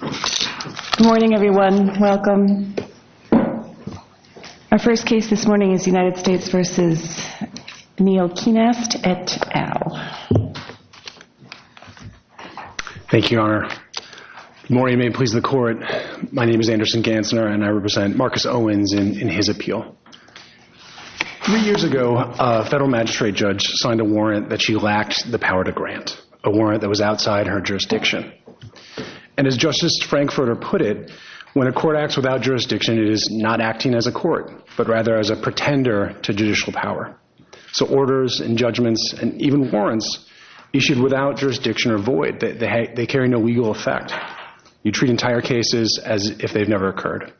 Good morning, everyone. Welcome. Our first case this morning is United States v. Neil Kienast et al. Thank you, Your Honor. Good morning. May it please the Court. My name is Anderson Gansner, and I represent Marcus Owens in his appeal. Three years ago, a federal magistrate judge signed a warrant that she lacked the power to grant, a warrant that was outside her jurisdiction. And as Justice Frankfurter put it, when a court acts without jurisdiction, it is not acting as a court, but rather as a pretender to judicial power. So orders and judgments and even warrants issued without jurisdiction are void. They carry no legal effect. You treat entire cases as if they've never occurred,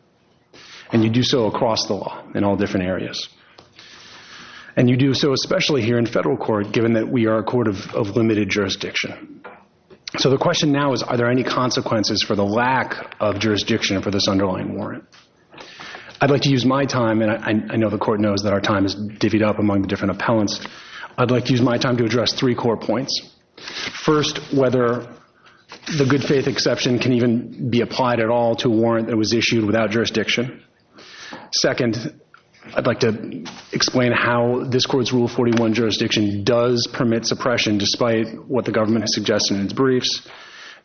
and you do so across the law in all different areas. And you do so especially here in federal court, given that we are a court of limited jurisdiction. So the question now is, are there any consequences for the lack of jurisdiction for this underlying warrant? I'd like to use my time, and I know the Court knows that our time is divvied up among the different appellants. I'd like to use my time to address three core points. First, whether the good faith exception can even be applied at all to a warrant that was issued without jurisdiction. Second, I'd like to explain how this Court's Rule 41 jurisdiction does permit suppression, despite what the government has suggested in its briefs.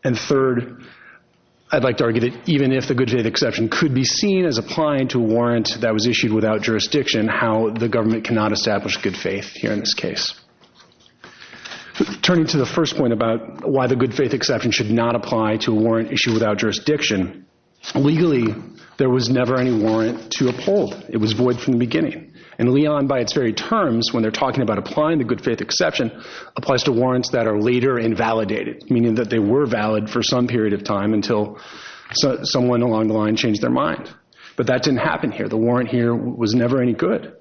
And third, I'd like to argue that even if the good faith exception could be seen as applying to a warrant that was issued without jurisdiction, how the government cannot establish good faith here in this case. Turning to the first point about why the good faith exception should not apply to a warrant issued without jurisdiction, legally, there was never any warrant to uphold. It was void from the beginning. And Leon, by its very terms, when they're talking about applying the good faith exception, applies to warrants that are later invalidated, meaning that they were valid for some period of time until someone along the line changed their mind. But that didn't happen here. The warrant here was never any good.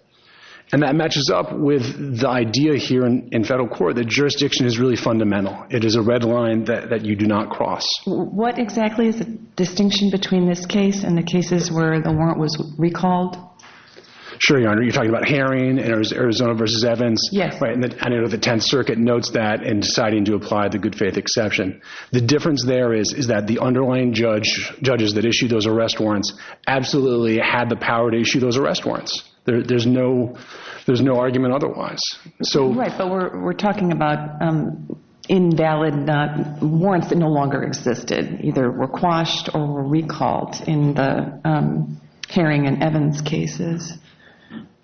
And that matches up with the idea here in federal court that jurisdiction is really fundamental. It is a red line that you do not cross. What exactly is the distinction between this case and the cases where the warrant was recalled? Sure, Your Honor. You're talking about Herring and Arizona v. Evans. Yes. And the 10th Circuit notes that in deciding to apply the good faith exception. The difference there is that the underlying judges that issued those arrest warrants absolutely had the power to issue those arrest warrants. There's no argument otherwise. Right, but we're talking about invalid warrants that no longer existed. Either were quashed or recalled in the Herring and Evans cases.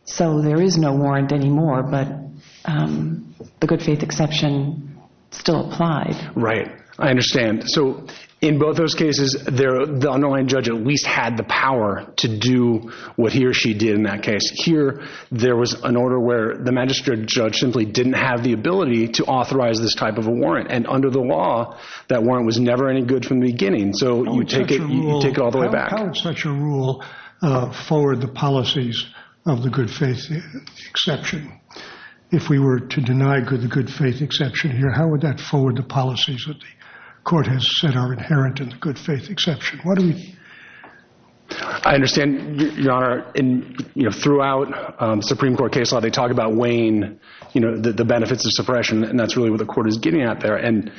So there is no warrant anymore, but the good faith exception still applied. Right. I understand. So in both those cases, the underlying judge at least had the power to do what he or she did in that case. Here, there was an order where the magistrate judge simply didn't have the ability to authorize this type of a warrant. And under the law, that warrant was never any good from the beginning. So you take it all the way back. How would such a rule forward the policies of the good faith exception? If we were to deny the good faith exception here, how would that forward the policies that the court has said are inherent in the good faith exception? I understand, Your Honor. Throughout Supreme Court case law, they talk about weighing the benefits of suppression. And that's really what the court is getting at there. And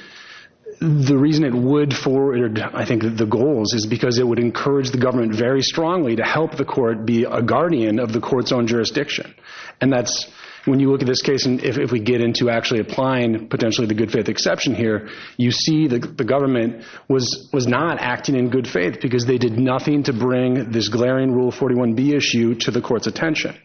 the reason it would forward, I think, the goals is because it would encourage the government very strongly to help the court be a guardian of the court's own jurisdiction. And that's when you look at this case, and if we get into actually applying potentially the good faith exception here, you see the government was not acting in good faith because they did nothing to bring this glaring Rule 41B issue to the court's attention.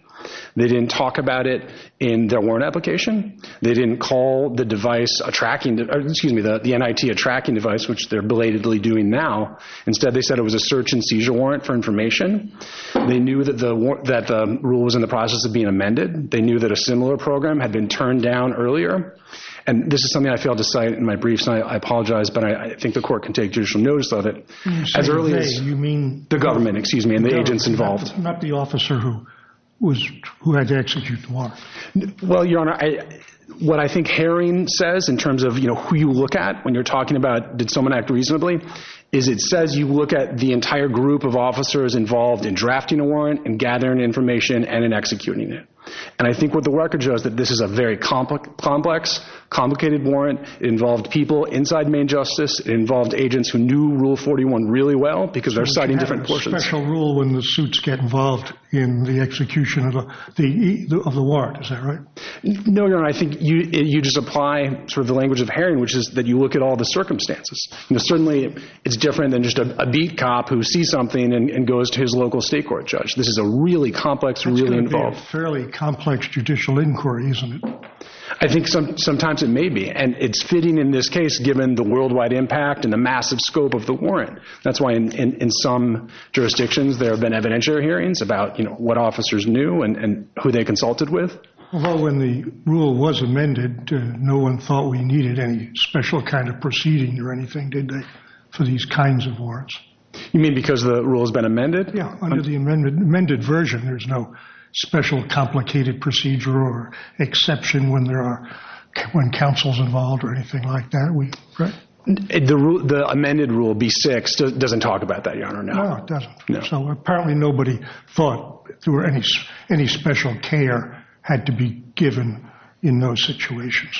They didn't talk about it in their warrant application. They didn't call the device a tracking—excuse me, the NIT a tracking device, which they're belatedly doing now. Instead, they said it was a search and seizure warrant for information. They knew that the rule was in the process of being amended. They knew that a similar program had been turned down earlier. And this is something I failed to cite in my brief, so I apologize, but I think the court can take judicial notice of it. As early as— You mean— The government, excuse me, and the agents involved. Not the officer who had to execute the warrant. Well, Your Honor, what I think Haring says in terms of who you look at when you're talking about did someone act reasonably is it says you look at the entire group of officers involved in drafting a warrant and gathering information and in executing it. And I think what the record shows is that this is a very complex, complicated warrant. It involved people inside Main Justice. It involved agents who knew Rule 41 really well because they're citing different portions. Is there a special rule when the suits get involved in the execution of the warrant? Is that right? No, Your Honor. I think you just apply sort of the language of Haring, which is that you look at all the circumstances. Certainly, it's different than just a beat cop who sees something and goes to his local state court judge. This is a really complex, really involved— It's going to be a fairly complex judicial inquiry, isn't it? I think sometimes it may be. And it's fitting in this case given the worldwide impact and the massive scope of the warrant. That's why in some jurisdictions there have been evidentiary hearings about what officers knew and who they consulted with. Although when the rule was amended, no one thought we needed any special kind of proceeding or anything, did they, for these kinds of warrants? You mean because the rule has been amended? Yeah. Under the amended version, there's no special complicated procedure or exception when there are—when counsel's involved or anything like that. The amended rule, B-6, doesn't talk about that, Your Honor. No, it doesn't. So apparently nobody thought any special care had to be given in those situations.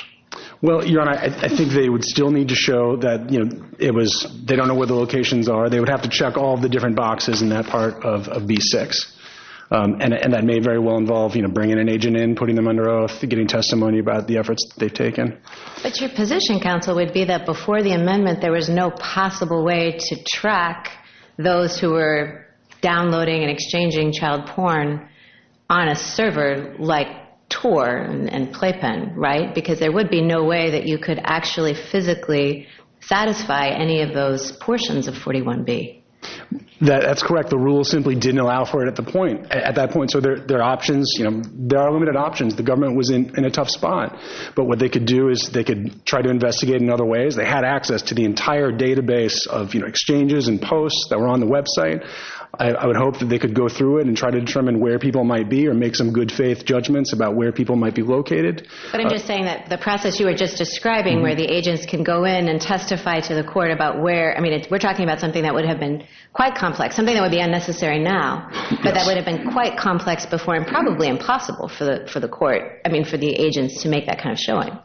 Well, Your Honor, I think they would still need to show that it was—they don't know where the locations are. They would have to check all the different boxes in that part of B-6. And that may very well involve bringing an agent in, putting them under oath, getting testimony about the efforts that they've taken. But your position, counsel, would be that before the amendment there was no possible way to track those who were downloading and exchanging child porn on a server like Tor and Playpen, right? Because there would be no way that you could actually physically satisfy any of those portions of 41B. That's correct. The rule simply didn't allow for it at that point. So there are options. There are limited options. The government was in a tough spot. But what they could do is they could try to investigate in other ways. They had access to the entire database of exchanges and posts that were on the website. I would hope that they could go through it and try to determine where people might be or make some good-faith judgments about where people might be located. But I'm just saying that the process you were just describing where the agents can go in and testify to the court about where— I mean, we're talking about something that would have been quite complex, something that would be unnecessary now, but that would have been quite complex before and probably impossible for the court—I mean, for the agents to make that kind of showing.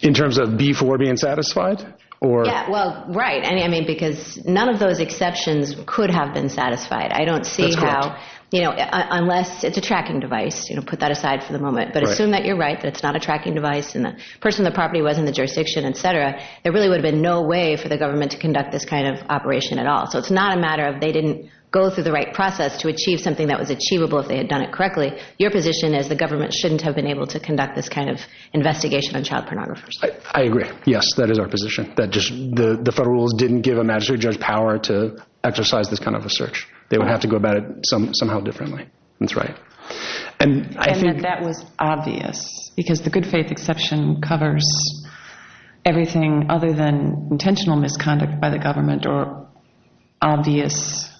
In terms of B4 being satisfied or— Yeah, well, right. I mean, because none of those exceptions could have been satisfied. I don't see how— That's correct. Unless it's a tracking device. Put that aside for the moment. But assume that you're right, that it's not a tracking device and the person on the property wasn't in the jurisdiction, et cetera. There really would have been no way for the government to conduct this kind of operation at all. So it's not a matter of they didn't go through the right process to achieve something that was achievable if they had done it correctly. Your position is the government shouldn't have been able to conduct this kind of investigation on child pornographers. I agree. Yes, that is our position, that just the federal rules didn't give a magistrate judge power to exercise this kind of a search. They would have to go about it somehow differently. That's right. And that that was obvious because the good faith exception covers everything other than intentional misconduct by the government or obvious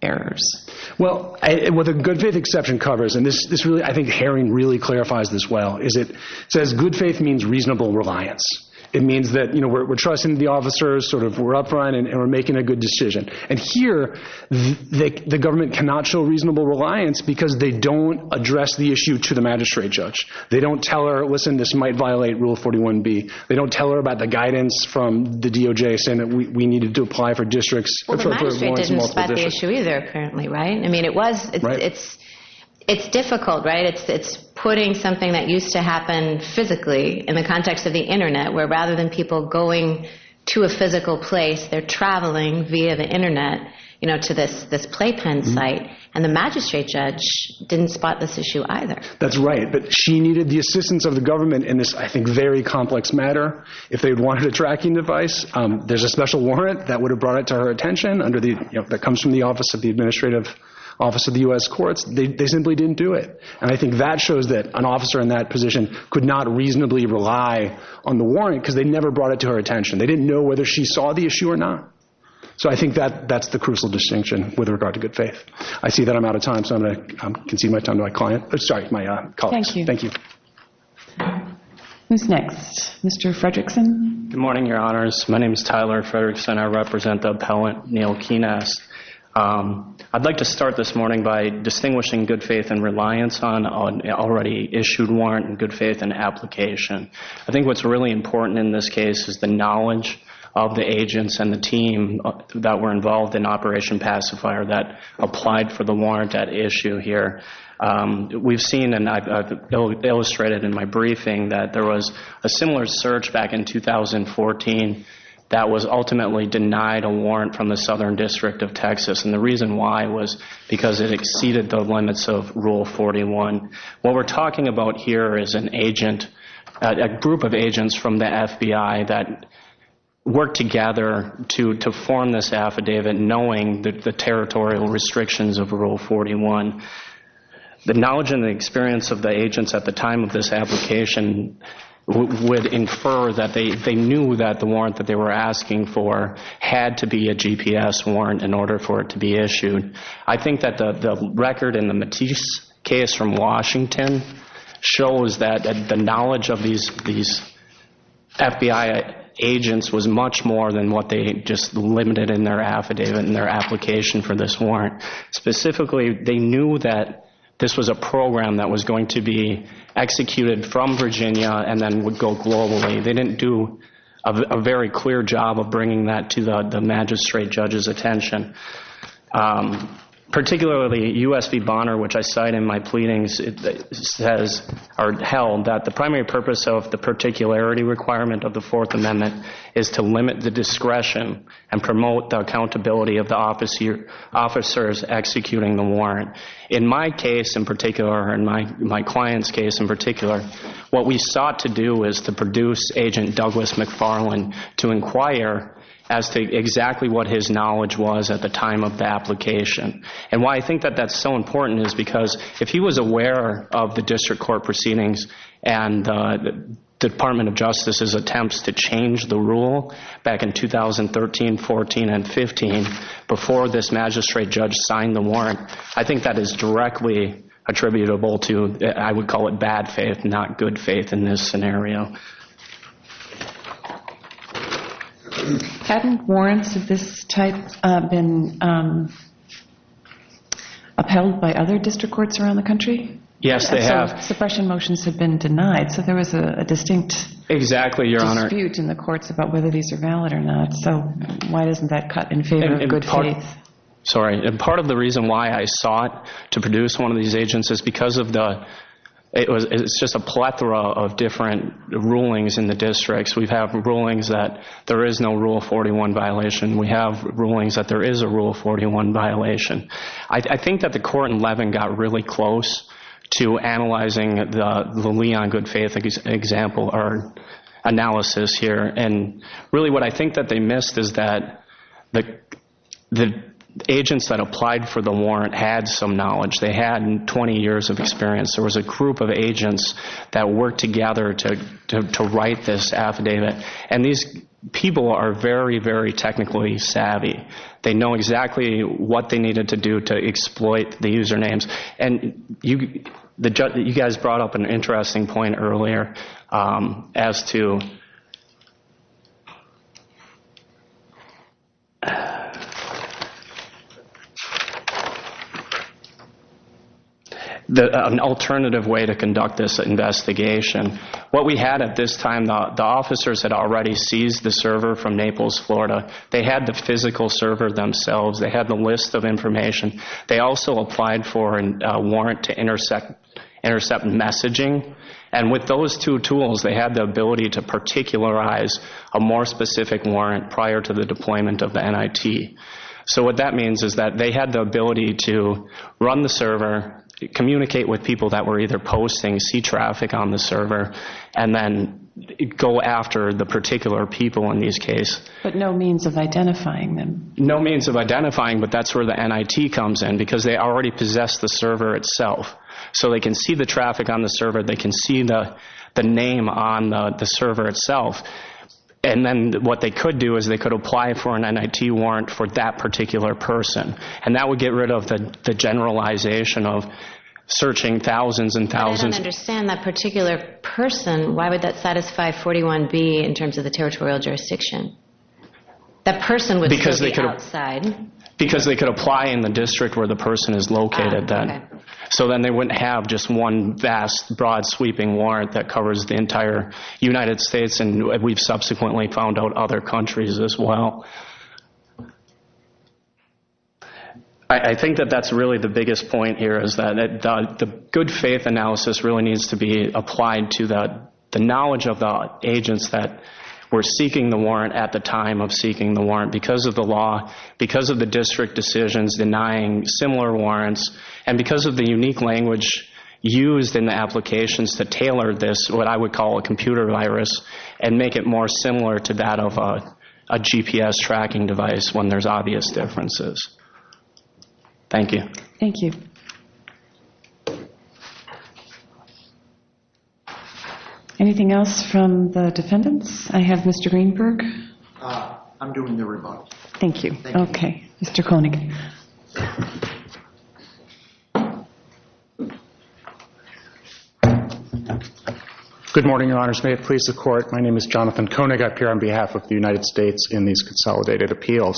errors. Well, what the good faith exception covers, and I think Haring really clarifies this well, is it says good faith means reasonable reliance. It means that we're trusting the officers, we're up front, and we're making a good decision. And here the government cannot show reasonable reliance because they don't address the issue to the magistrate judge. They don't tell her, listen, this might violate Rule 41B. They don't tell her about the guidance from the DOJ saying that we need to apply for districts. Well, the magistrate didn't spot the issue either apparently, right? I mean, it was it's it's difficult, right? It's putting something that used to happen physically in the context of the Internet, where rather than people going to a physical place, they're traveling via the Internet, you know, to this this playpen site. And the magistrate judge didn't spot this issue either. That's right. But she needed the assistance of the government in this, I think, very complex matter. If they wanted a tracking device, there's a special warrant that would have brought it to her attention under the that comes from the office of the administrative office of the U.S. courts. They simply didn't do it. And I think that shows that an officer in that position could not reasonably rely on the warrant because they never brought it to her attention. They didn't know whether she saw the issue or not. So I think that that's the crucial distinction with regard to good faith. I see that I'm out of time, so I'm going to concede my time to my client. Sorry, my colleagues. Thank you. Thank you. Who's next? Mr. Fredrickson. Good morning, Your Honors. My name is Tyler Fredrickson. I represent the appellant, Neil Keenest. I'd like to start this morning by distinguishing good faith and reliance on an already issued warrant and good faith in application. I think what's really important in this case is the knowledge of the agents and the team that were involved in Operation Pacifier that applied for the warrant at issue here. We've seen, and I've illustrated in my briefing, that there was a similar search back in 2014 that was ultimately denied a warrant from the Southern District of Texas. And the reason why was because it exceeded the limits of Rule 41. What we're talking about here is an agent, a group of agents from the FBI that worked together to form this affidavit knowing the territorial restrictions of Rule 41. The knowledge and the experience of the agents at the time of this application would infer that they knew that the warrant that they were asking for had to be a GPS warrant in order for it to be issued. I think that the record in the Matisse case from Washington shows that the knowledge of these FBI agents was much more than what they just limited in their affidavit and their application for this warrant. Specifically, they knew that this was a program that was going to be executed from Virginia and then would go globally. They didn't do a very clear job of bringing that to the magistrate judge's attention. Particularly, U.S. v. Bonner, which I cite in my pleadings, says or held that the primary purpose of the particularity requirement of the Fourth Amendment is to limit the discretion and promote the accountability of the officers executing the warrant. In my case in particular, or in my client's case in particular, what we sought to do was to produce Agent Douglas McFarlane to inquire as to exactly what his knowledge was at the time of the application. Why I think that that's so important is because if he was aware of the district court proceedings and the Department of Justice's attempts to change the rule back in 2013, 14, and 15 before this magistrate judge signed the warrant, I think that is directly attributable to, I would call it bad faith, not good faith in this scenario. Haven't warrants of this type been upheld by other district courts around the country? Yes, they have. Suppression motions have been denied, so there was a distinct dispute in the courts about whether these are valid or not, so why doesn't that cut in favor of good faith? Part of the reason why I sought to produce one of these agents is because it's just a plethora of different rulings in the districts. We have rulings that there is no Rule 41 violation. We have rulings that there is a Rule 41 violation. I think that the court in Levin got really close to analyzing the Leon good faith example or analysis here, and really what I think that they missed is that the agents that applied for the warrant had some knowledge. They had 20 years of experience. There was a group of agents that worked together to write this affidavit, and these people are very, very technically savvy. They know exactly what they needed to do to exploit the usernames, and you guys brought up an interesting point earlier as to an alternative way to conduct this investigation. What we had at this time, the officers had already seized the server from Naples, Florida. They had the physical server themselves. They had the list of information. They also applied for a warrant to intercept messaging, and with those two tools, they had the ability to particularize a more specific warrant prior to the deployment of the NIT. So what that means is that they had the ability to run the server, communicate with people that were either posting, see traffic on the server, and then go after the particular people in these cases. But no means of identifying them. No means of identifying, but that's where the NIT comes in because they already possess the server itself. So they can see the traffic on the server. They can see the name on the server itself, and then what they could do is they could apply for an NIT warrant for that particular person, and that would get rid of the generalization of searching thousands and thousands. If they don't understand that particular person, why would that satisfy 41B in terms of the territorial jurisdiction? That person would still be outside. Because they could apply in the district where the person is located. So then they wouldn't have just one vast, broad, sweeping warrant that covers the entire United States, and we've subsequently found out other countries as well. I think that that's really the biggest point here is that the good faith analysis really needs to be applied to the knowledge of the agents that were seeking the warrant at the time of seeking the warrant because of the law, because of the district decisions denying similar warrants, and because of the unique language used in the applications that tailored this, what I would call a computer virus, and make it more similar to that of a GPS tracking device when there's obvious differences. Thank you. Thank you. Anything else from the defendants? I have Mr. Greenberg. I'm doing the rebuttal. Thank you. Okay. Mr. Koenig. Thank you. Good morning, Your Honors. May it please the Court. My name is Jonathan Koenig. I appear on behalf of the United States in these consolidated appeals.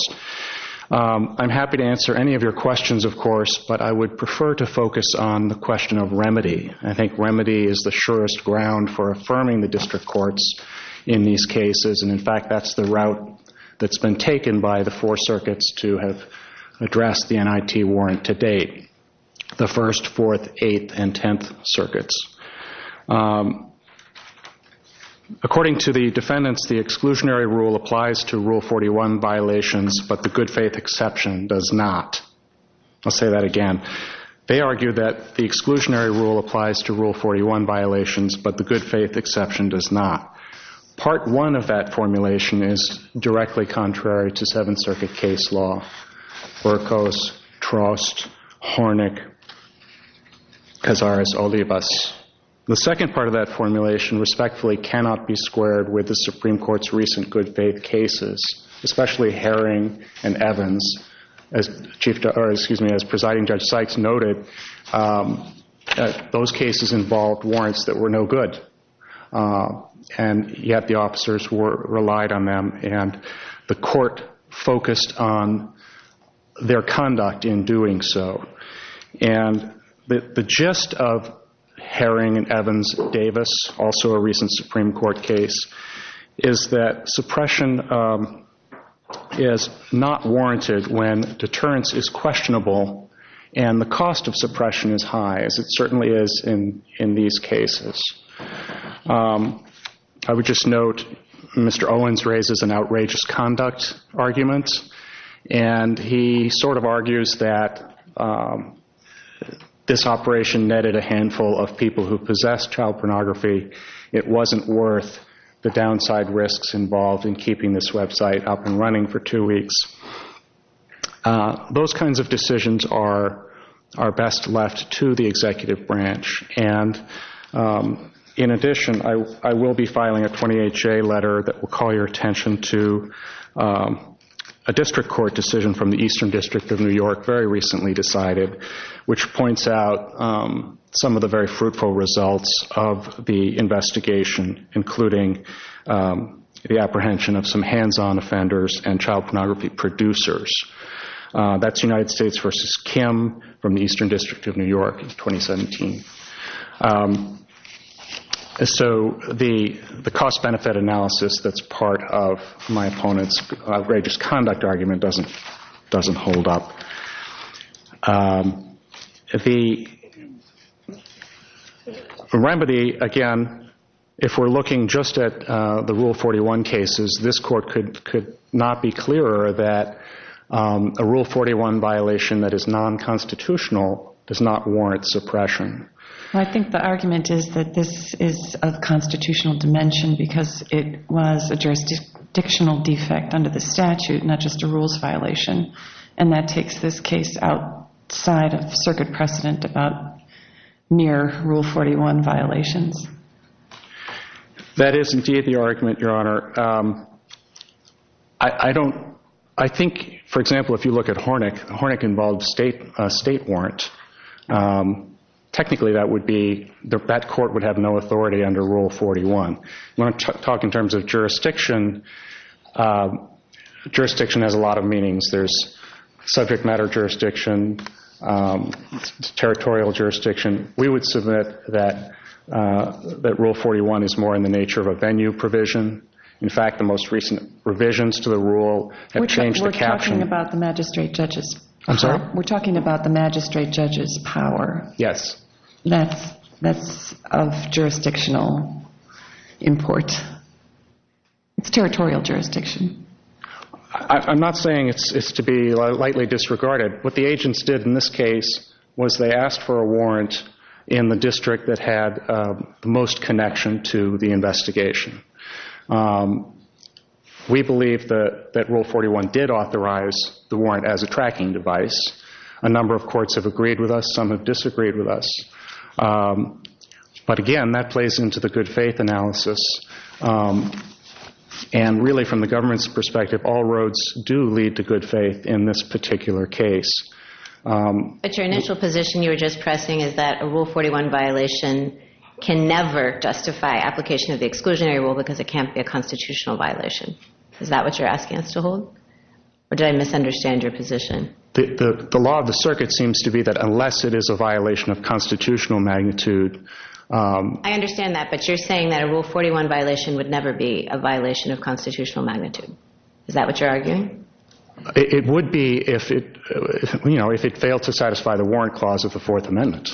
I'm happy to answer any of your questions, of course, but I would prefer to focus on the question of remedy. I think remedy is the surest ground for affirming the district courts in these cases, and, in fact, that's the route that's been taken by the four circuits to have addressed the NIT warrant to date, the first, fourth, eighth, and tenth circuits. According to the defendants, the exclusionary rule applies to Rule 41 violations, but the good faith exception does not. I'll say that again. They argue that the exclusionary rule applies to Rule 41 violations, but the good faith exception does not. Part one of that formulation is directly contrary to Seventh Circuit case law, Burkos, Trost, Hornick, Cazares, Olivas. The second part of that formulation respectfully cannot be squared with the Supreme Court's recent good faith cases, especially Herring and Evans. As Presiding Judge Sykes noted, those cases involved warrants that were no good, and yet the officers relied on them, and the court focused on their conduct in doing so. The gist of Herring and Evans-Davis, also a recent Supreme Court case, is that suppression is not warranted when deterrence is questionable and the cost of suppression is high, as it certainly is in these cases. I would just note Mr. Owens raises an outrageous conduct argument, and he sort of argues that this operation netted a handful of people who possessed child pornography. It wasn't worth the downside risks involved in keeping this website up and running for two weeks. Those kinds of decisions are best left to the executive branch. In addition, I will be filing a 20HA letter that will call your attention to a district court decision from the Eastern District of New York very recently decided, which points out some of the very fruitful results of the investigation, including the apprehension of some hands-on offenders and child pornography producers. That's United States v. Kim from the Eastern District of New York in 2017. So the cost-benefit analysis that's part of my opponent's outrageous conduct argument doesn't hold up. The remedy, again, if we're looking just at the Rule 41 cases, this court could not be clearer that a Rule 41 violation that is non-constitutional does not warrant suppression. I think the argument is that this is of constitutional dimension because it was a jurisdictional defect under the statute, not just a rules violation. And that takes this case outside of circuit precedent about mere Rule 41 violations. That is indeed the argument, Your Honor. I think, for example, if you look at Hornick, Hornick involved a state warrant. Technically, that court would have no authority under Rule 41. When I talk in terms of jurisdiction, jurisdiction has a lot of meanings. There's subject matter jurisdiction, territorial jurisdiction. We would submit that Rule 41 is more in the nature of a venue provision. In fact, the most recent revisions to the rule have changed the caption. We're talking about the magistrate judge's power. Yes. That's of jurisdictional import. It's territorial jurisdiction. I'm not saying it's to be lightly disregarded. What the agents did in this case was they asked for a warrant in the district that had the most connection to the investigation. We believe that Rule 41 did authorize the warrant as a tracking device. A number of courts have agreed with us. Some have disagreed with us. But again, that plays into the good faith analysis. And really from the government's perspective, all roads do lead to good faith in this particular case. But your initial position you were just pressing is that a Rule 41 violation can never justify application of the exclusionary rule because it can't be a constitutional violation. Is that what you're asking us to hold? Or did I misunderstand your position? The law of the circuit seems to be that unless it is a violation of constitutional magnitude. I understand that, but you're saying that a Rule 41 violation would never be a violation of constitutional magnitude. Is that what you're arguing? It would be if it failed to satisfy the warrant clause of the Fourth Amendment.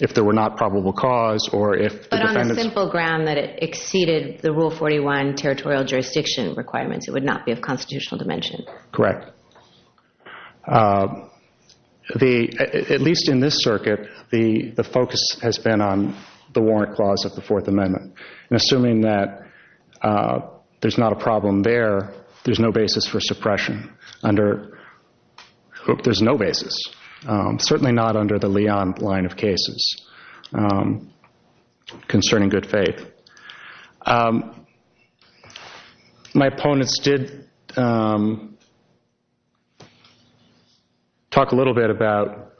If there were not probable cause or if the defendants. But on the simple ground that it exceeded the Rule 41 territorial jurisdiction requirements, it would not be of constitutional dimension. Correct. At least in this circuit, the focus has been on the warrant clause of the Fourth Amendment. Assuming that there's not a problem there, there's no basis for suppression. There's no basis. Certainly not under the Leon line of cases concerning good faith. My opponents did talk a little bit about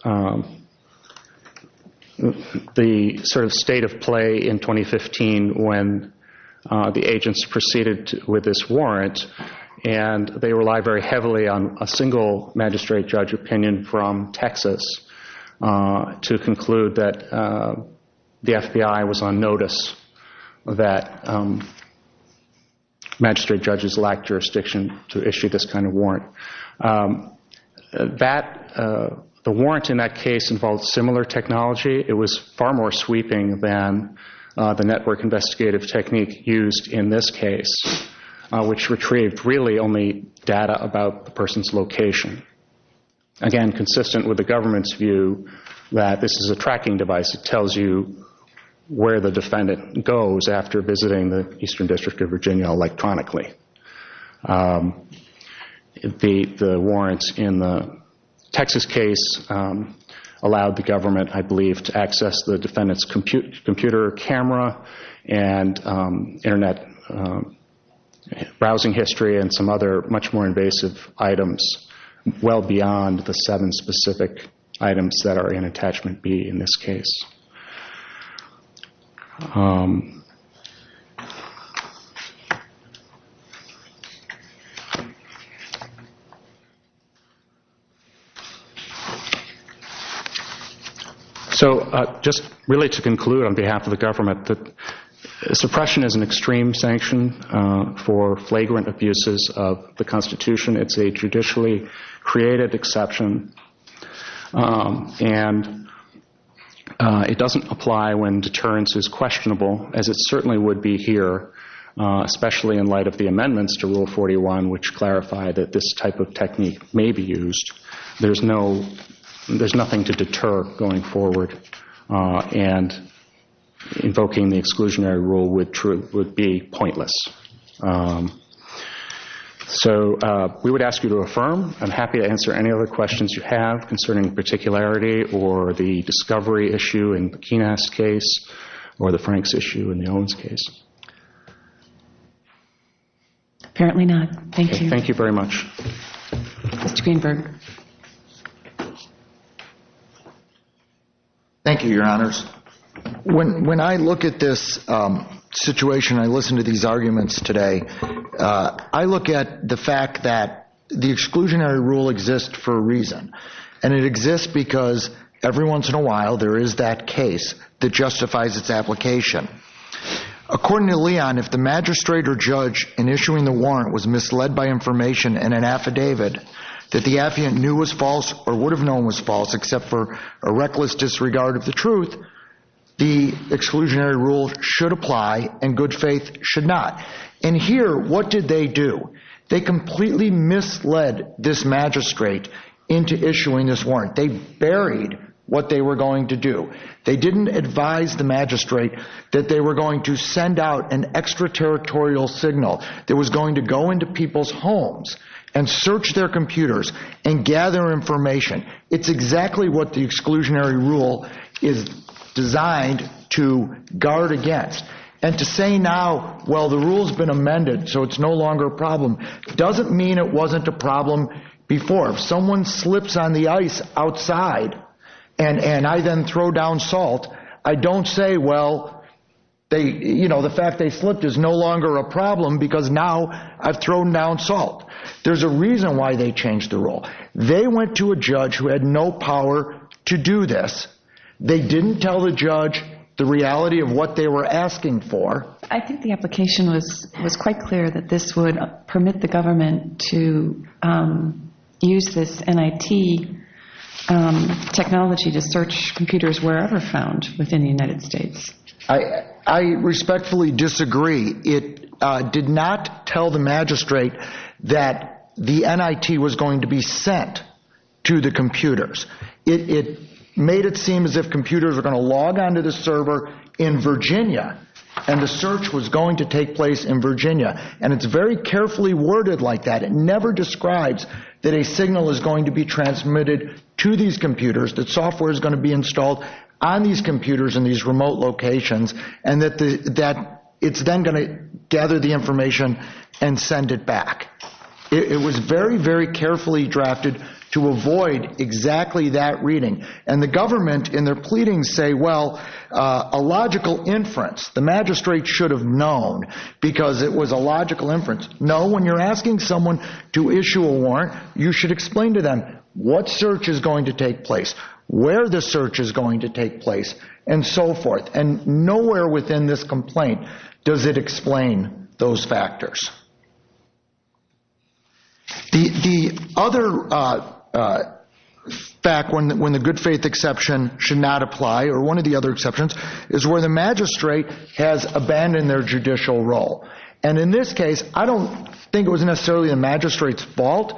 the sort of state of play in 2015 when the agents proceeded with this warrant. They relied very heavily on a single magistrate judge opinion from Texas to conclude that the FBI was on notice that magistrate judges lacked jurisdiction to issue this kind of warrant. The warrant in that case involved similar technology. It was far more sweeping than the network investigative technique used in this case, which retrieved really only data about the person's location. Again, consistent with the government's view that this is a tracking device. It tells you where the defendant goes after visiting the Eastern District of Virginia electronically. The warrants in the Texas case allowed the government, I believe, to access the defendant's computer camera and internet browsing history and some other much more invasive items well beyond the seven specific items that are in Attachment B in this case. Just really to conclude on behalf of the government, suppression is an extreme sanction for flagrant abuses of the Constitution. It's a judicially created exception, and it doesn't apply when deterrence is questionable, as it certainly would be here, especially in light of the amendments to Rule 41, which clarify that this type of technique may be used. There's nothing to deter going forward, and invoking the exclusionary rule would be pointless. We would ask you to affirm. I'm happy to answer any other questions you have concerning particularity or the discovery issue in the Pekinas case or the Franks issue in the Owens case. Apparently not. Thank you. Thank you very much. Mr. Greenberg. Thank you, Your Honors. When I look at this situation, I listen to these arguments today. I look at the fact that the exclusionary rule exists for a reason, and it exists because every once in a while there is that case that justifies its application. According to Leon, if the magistrate or judge in issuing the warrant was misled by information in an affidavit that the affiant knew was false or would have known was false, except for a reckless disregard of the truth, the exclusionary rule should apply, and good faith should not. And here, what did they do? They completely misled this magistrate into issuing this warrant. They buried what they were going to do. They didn't advise the magistrate that they were going to send out an extraterritorial signal that was going to go into people's homes and search their computers and gather information. It's exactly what the exclusionary rule is designed to guard against. And to say now, well, the rule's been amended, so it's no longer a problem, doesn't mean it wasn't a problem before. If someone slips on the ice outside and I then throw down salt, I don't say, well, the fact they slipped is no longer a problem because now I've thrown down salt. There's a reason why they changed the rule. They went to a judge who had no power to do this. They didn't tell the judge the reality of what they were asking for. I think the application was quite clear that this would permit the government to use this NIT technology to search computers wherever found within the United States. I respectfully disagree. It did not tell the magistrate that the NIT was going to be sent to the computers. It made it seem as if computers were going to log onto the server in Virginia and the search was going to take place in Virginia. And it's very carefully worded like that. It never describes that a signal is going to be transmitted to these computers, that software is going to be installed on these computers in these remote locations, and that it's then going to gather the information and send it back. It was very, very carefully drafted to avoid exactly that reading. And the government in their pleadings say, well, a logical inference. The magistrate should have known because it was a logical inference. No, when you're asking someone to issue a warrant, you should explain to them what search is going to take place, where the search is going to take place, and so forth. And nowhere within this complaint does it explain those factors. The other fact when the good faith exception should not apply, or one of the other exceptions, is where the magistrate has abandoned their judicial role. And in this case, I don't think it was necessarily the magistrate's fault,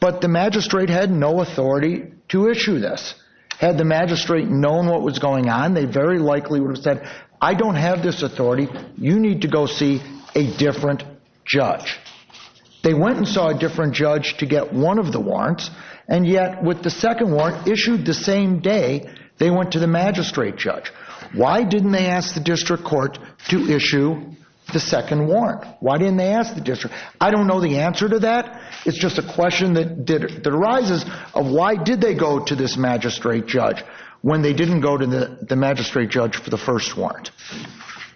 but the magistrate had no authority to issue this. Had the magistrate known what was going on, they very likely would have said, I don't have this authority. You need to go see a different judge. They went and saw a different judge to get one of the warrants, and yet with the second warrant issued the same day, they went to the magistrate judge. Why didn't they ask the district court to issue the second warrant? Why didn't they ask the district? I don't know the answer to that. It's just a question that arises of why did they go to this magistrate judge when they didn't go to the magistrate judge for the first warrant?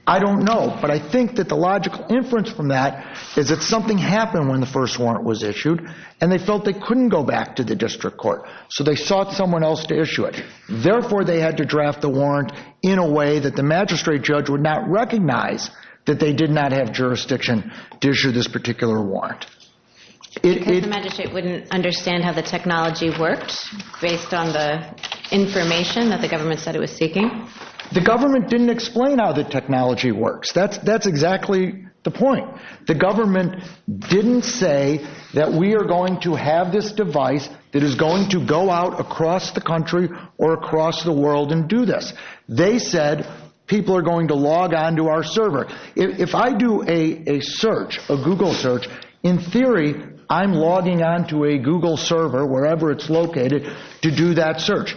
I don't know, but I think that the logical inference from that is that something happened when the first warrant was issued, and they felt they couldn't go back to the district court. So they sought someone else to issue it. Because the magistrate wouldn't understand how the technology worked based on the information that the government said it was seeking? The government didn't explain how the technology works. That's exactly the point. The government didn't say that we are going to have this device that is going to go out across the country or across the world and do this. They said people are going to log on to our server. If I do a search, a Google search, in theory, I'm logging on to a Google server, wherever it's located, to do that search.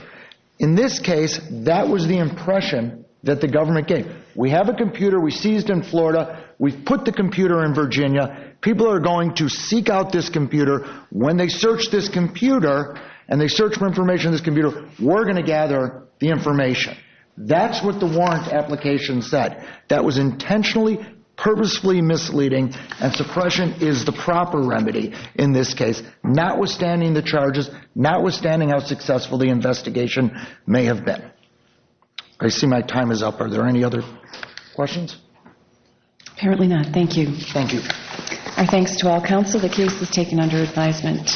In this case, that was the impression that the government gave. We have a computer. We seized in Florida. We've put the computer in Virginia. People are going to seek out this computer. When they search this computer and they search for information on this computer, we're going to gather the information. That's what the warrant application said. That was intentionally, purposefully misleading. And suppression is the proper remedy in this case, notwithstanding the charges, notwithstanding how successful the investigation may have been. I see my time is up. Are there any other questions? Apparently not. Thank you. Thank you. Our thanks to all counsel. The case is taken under advisement. Thank you.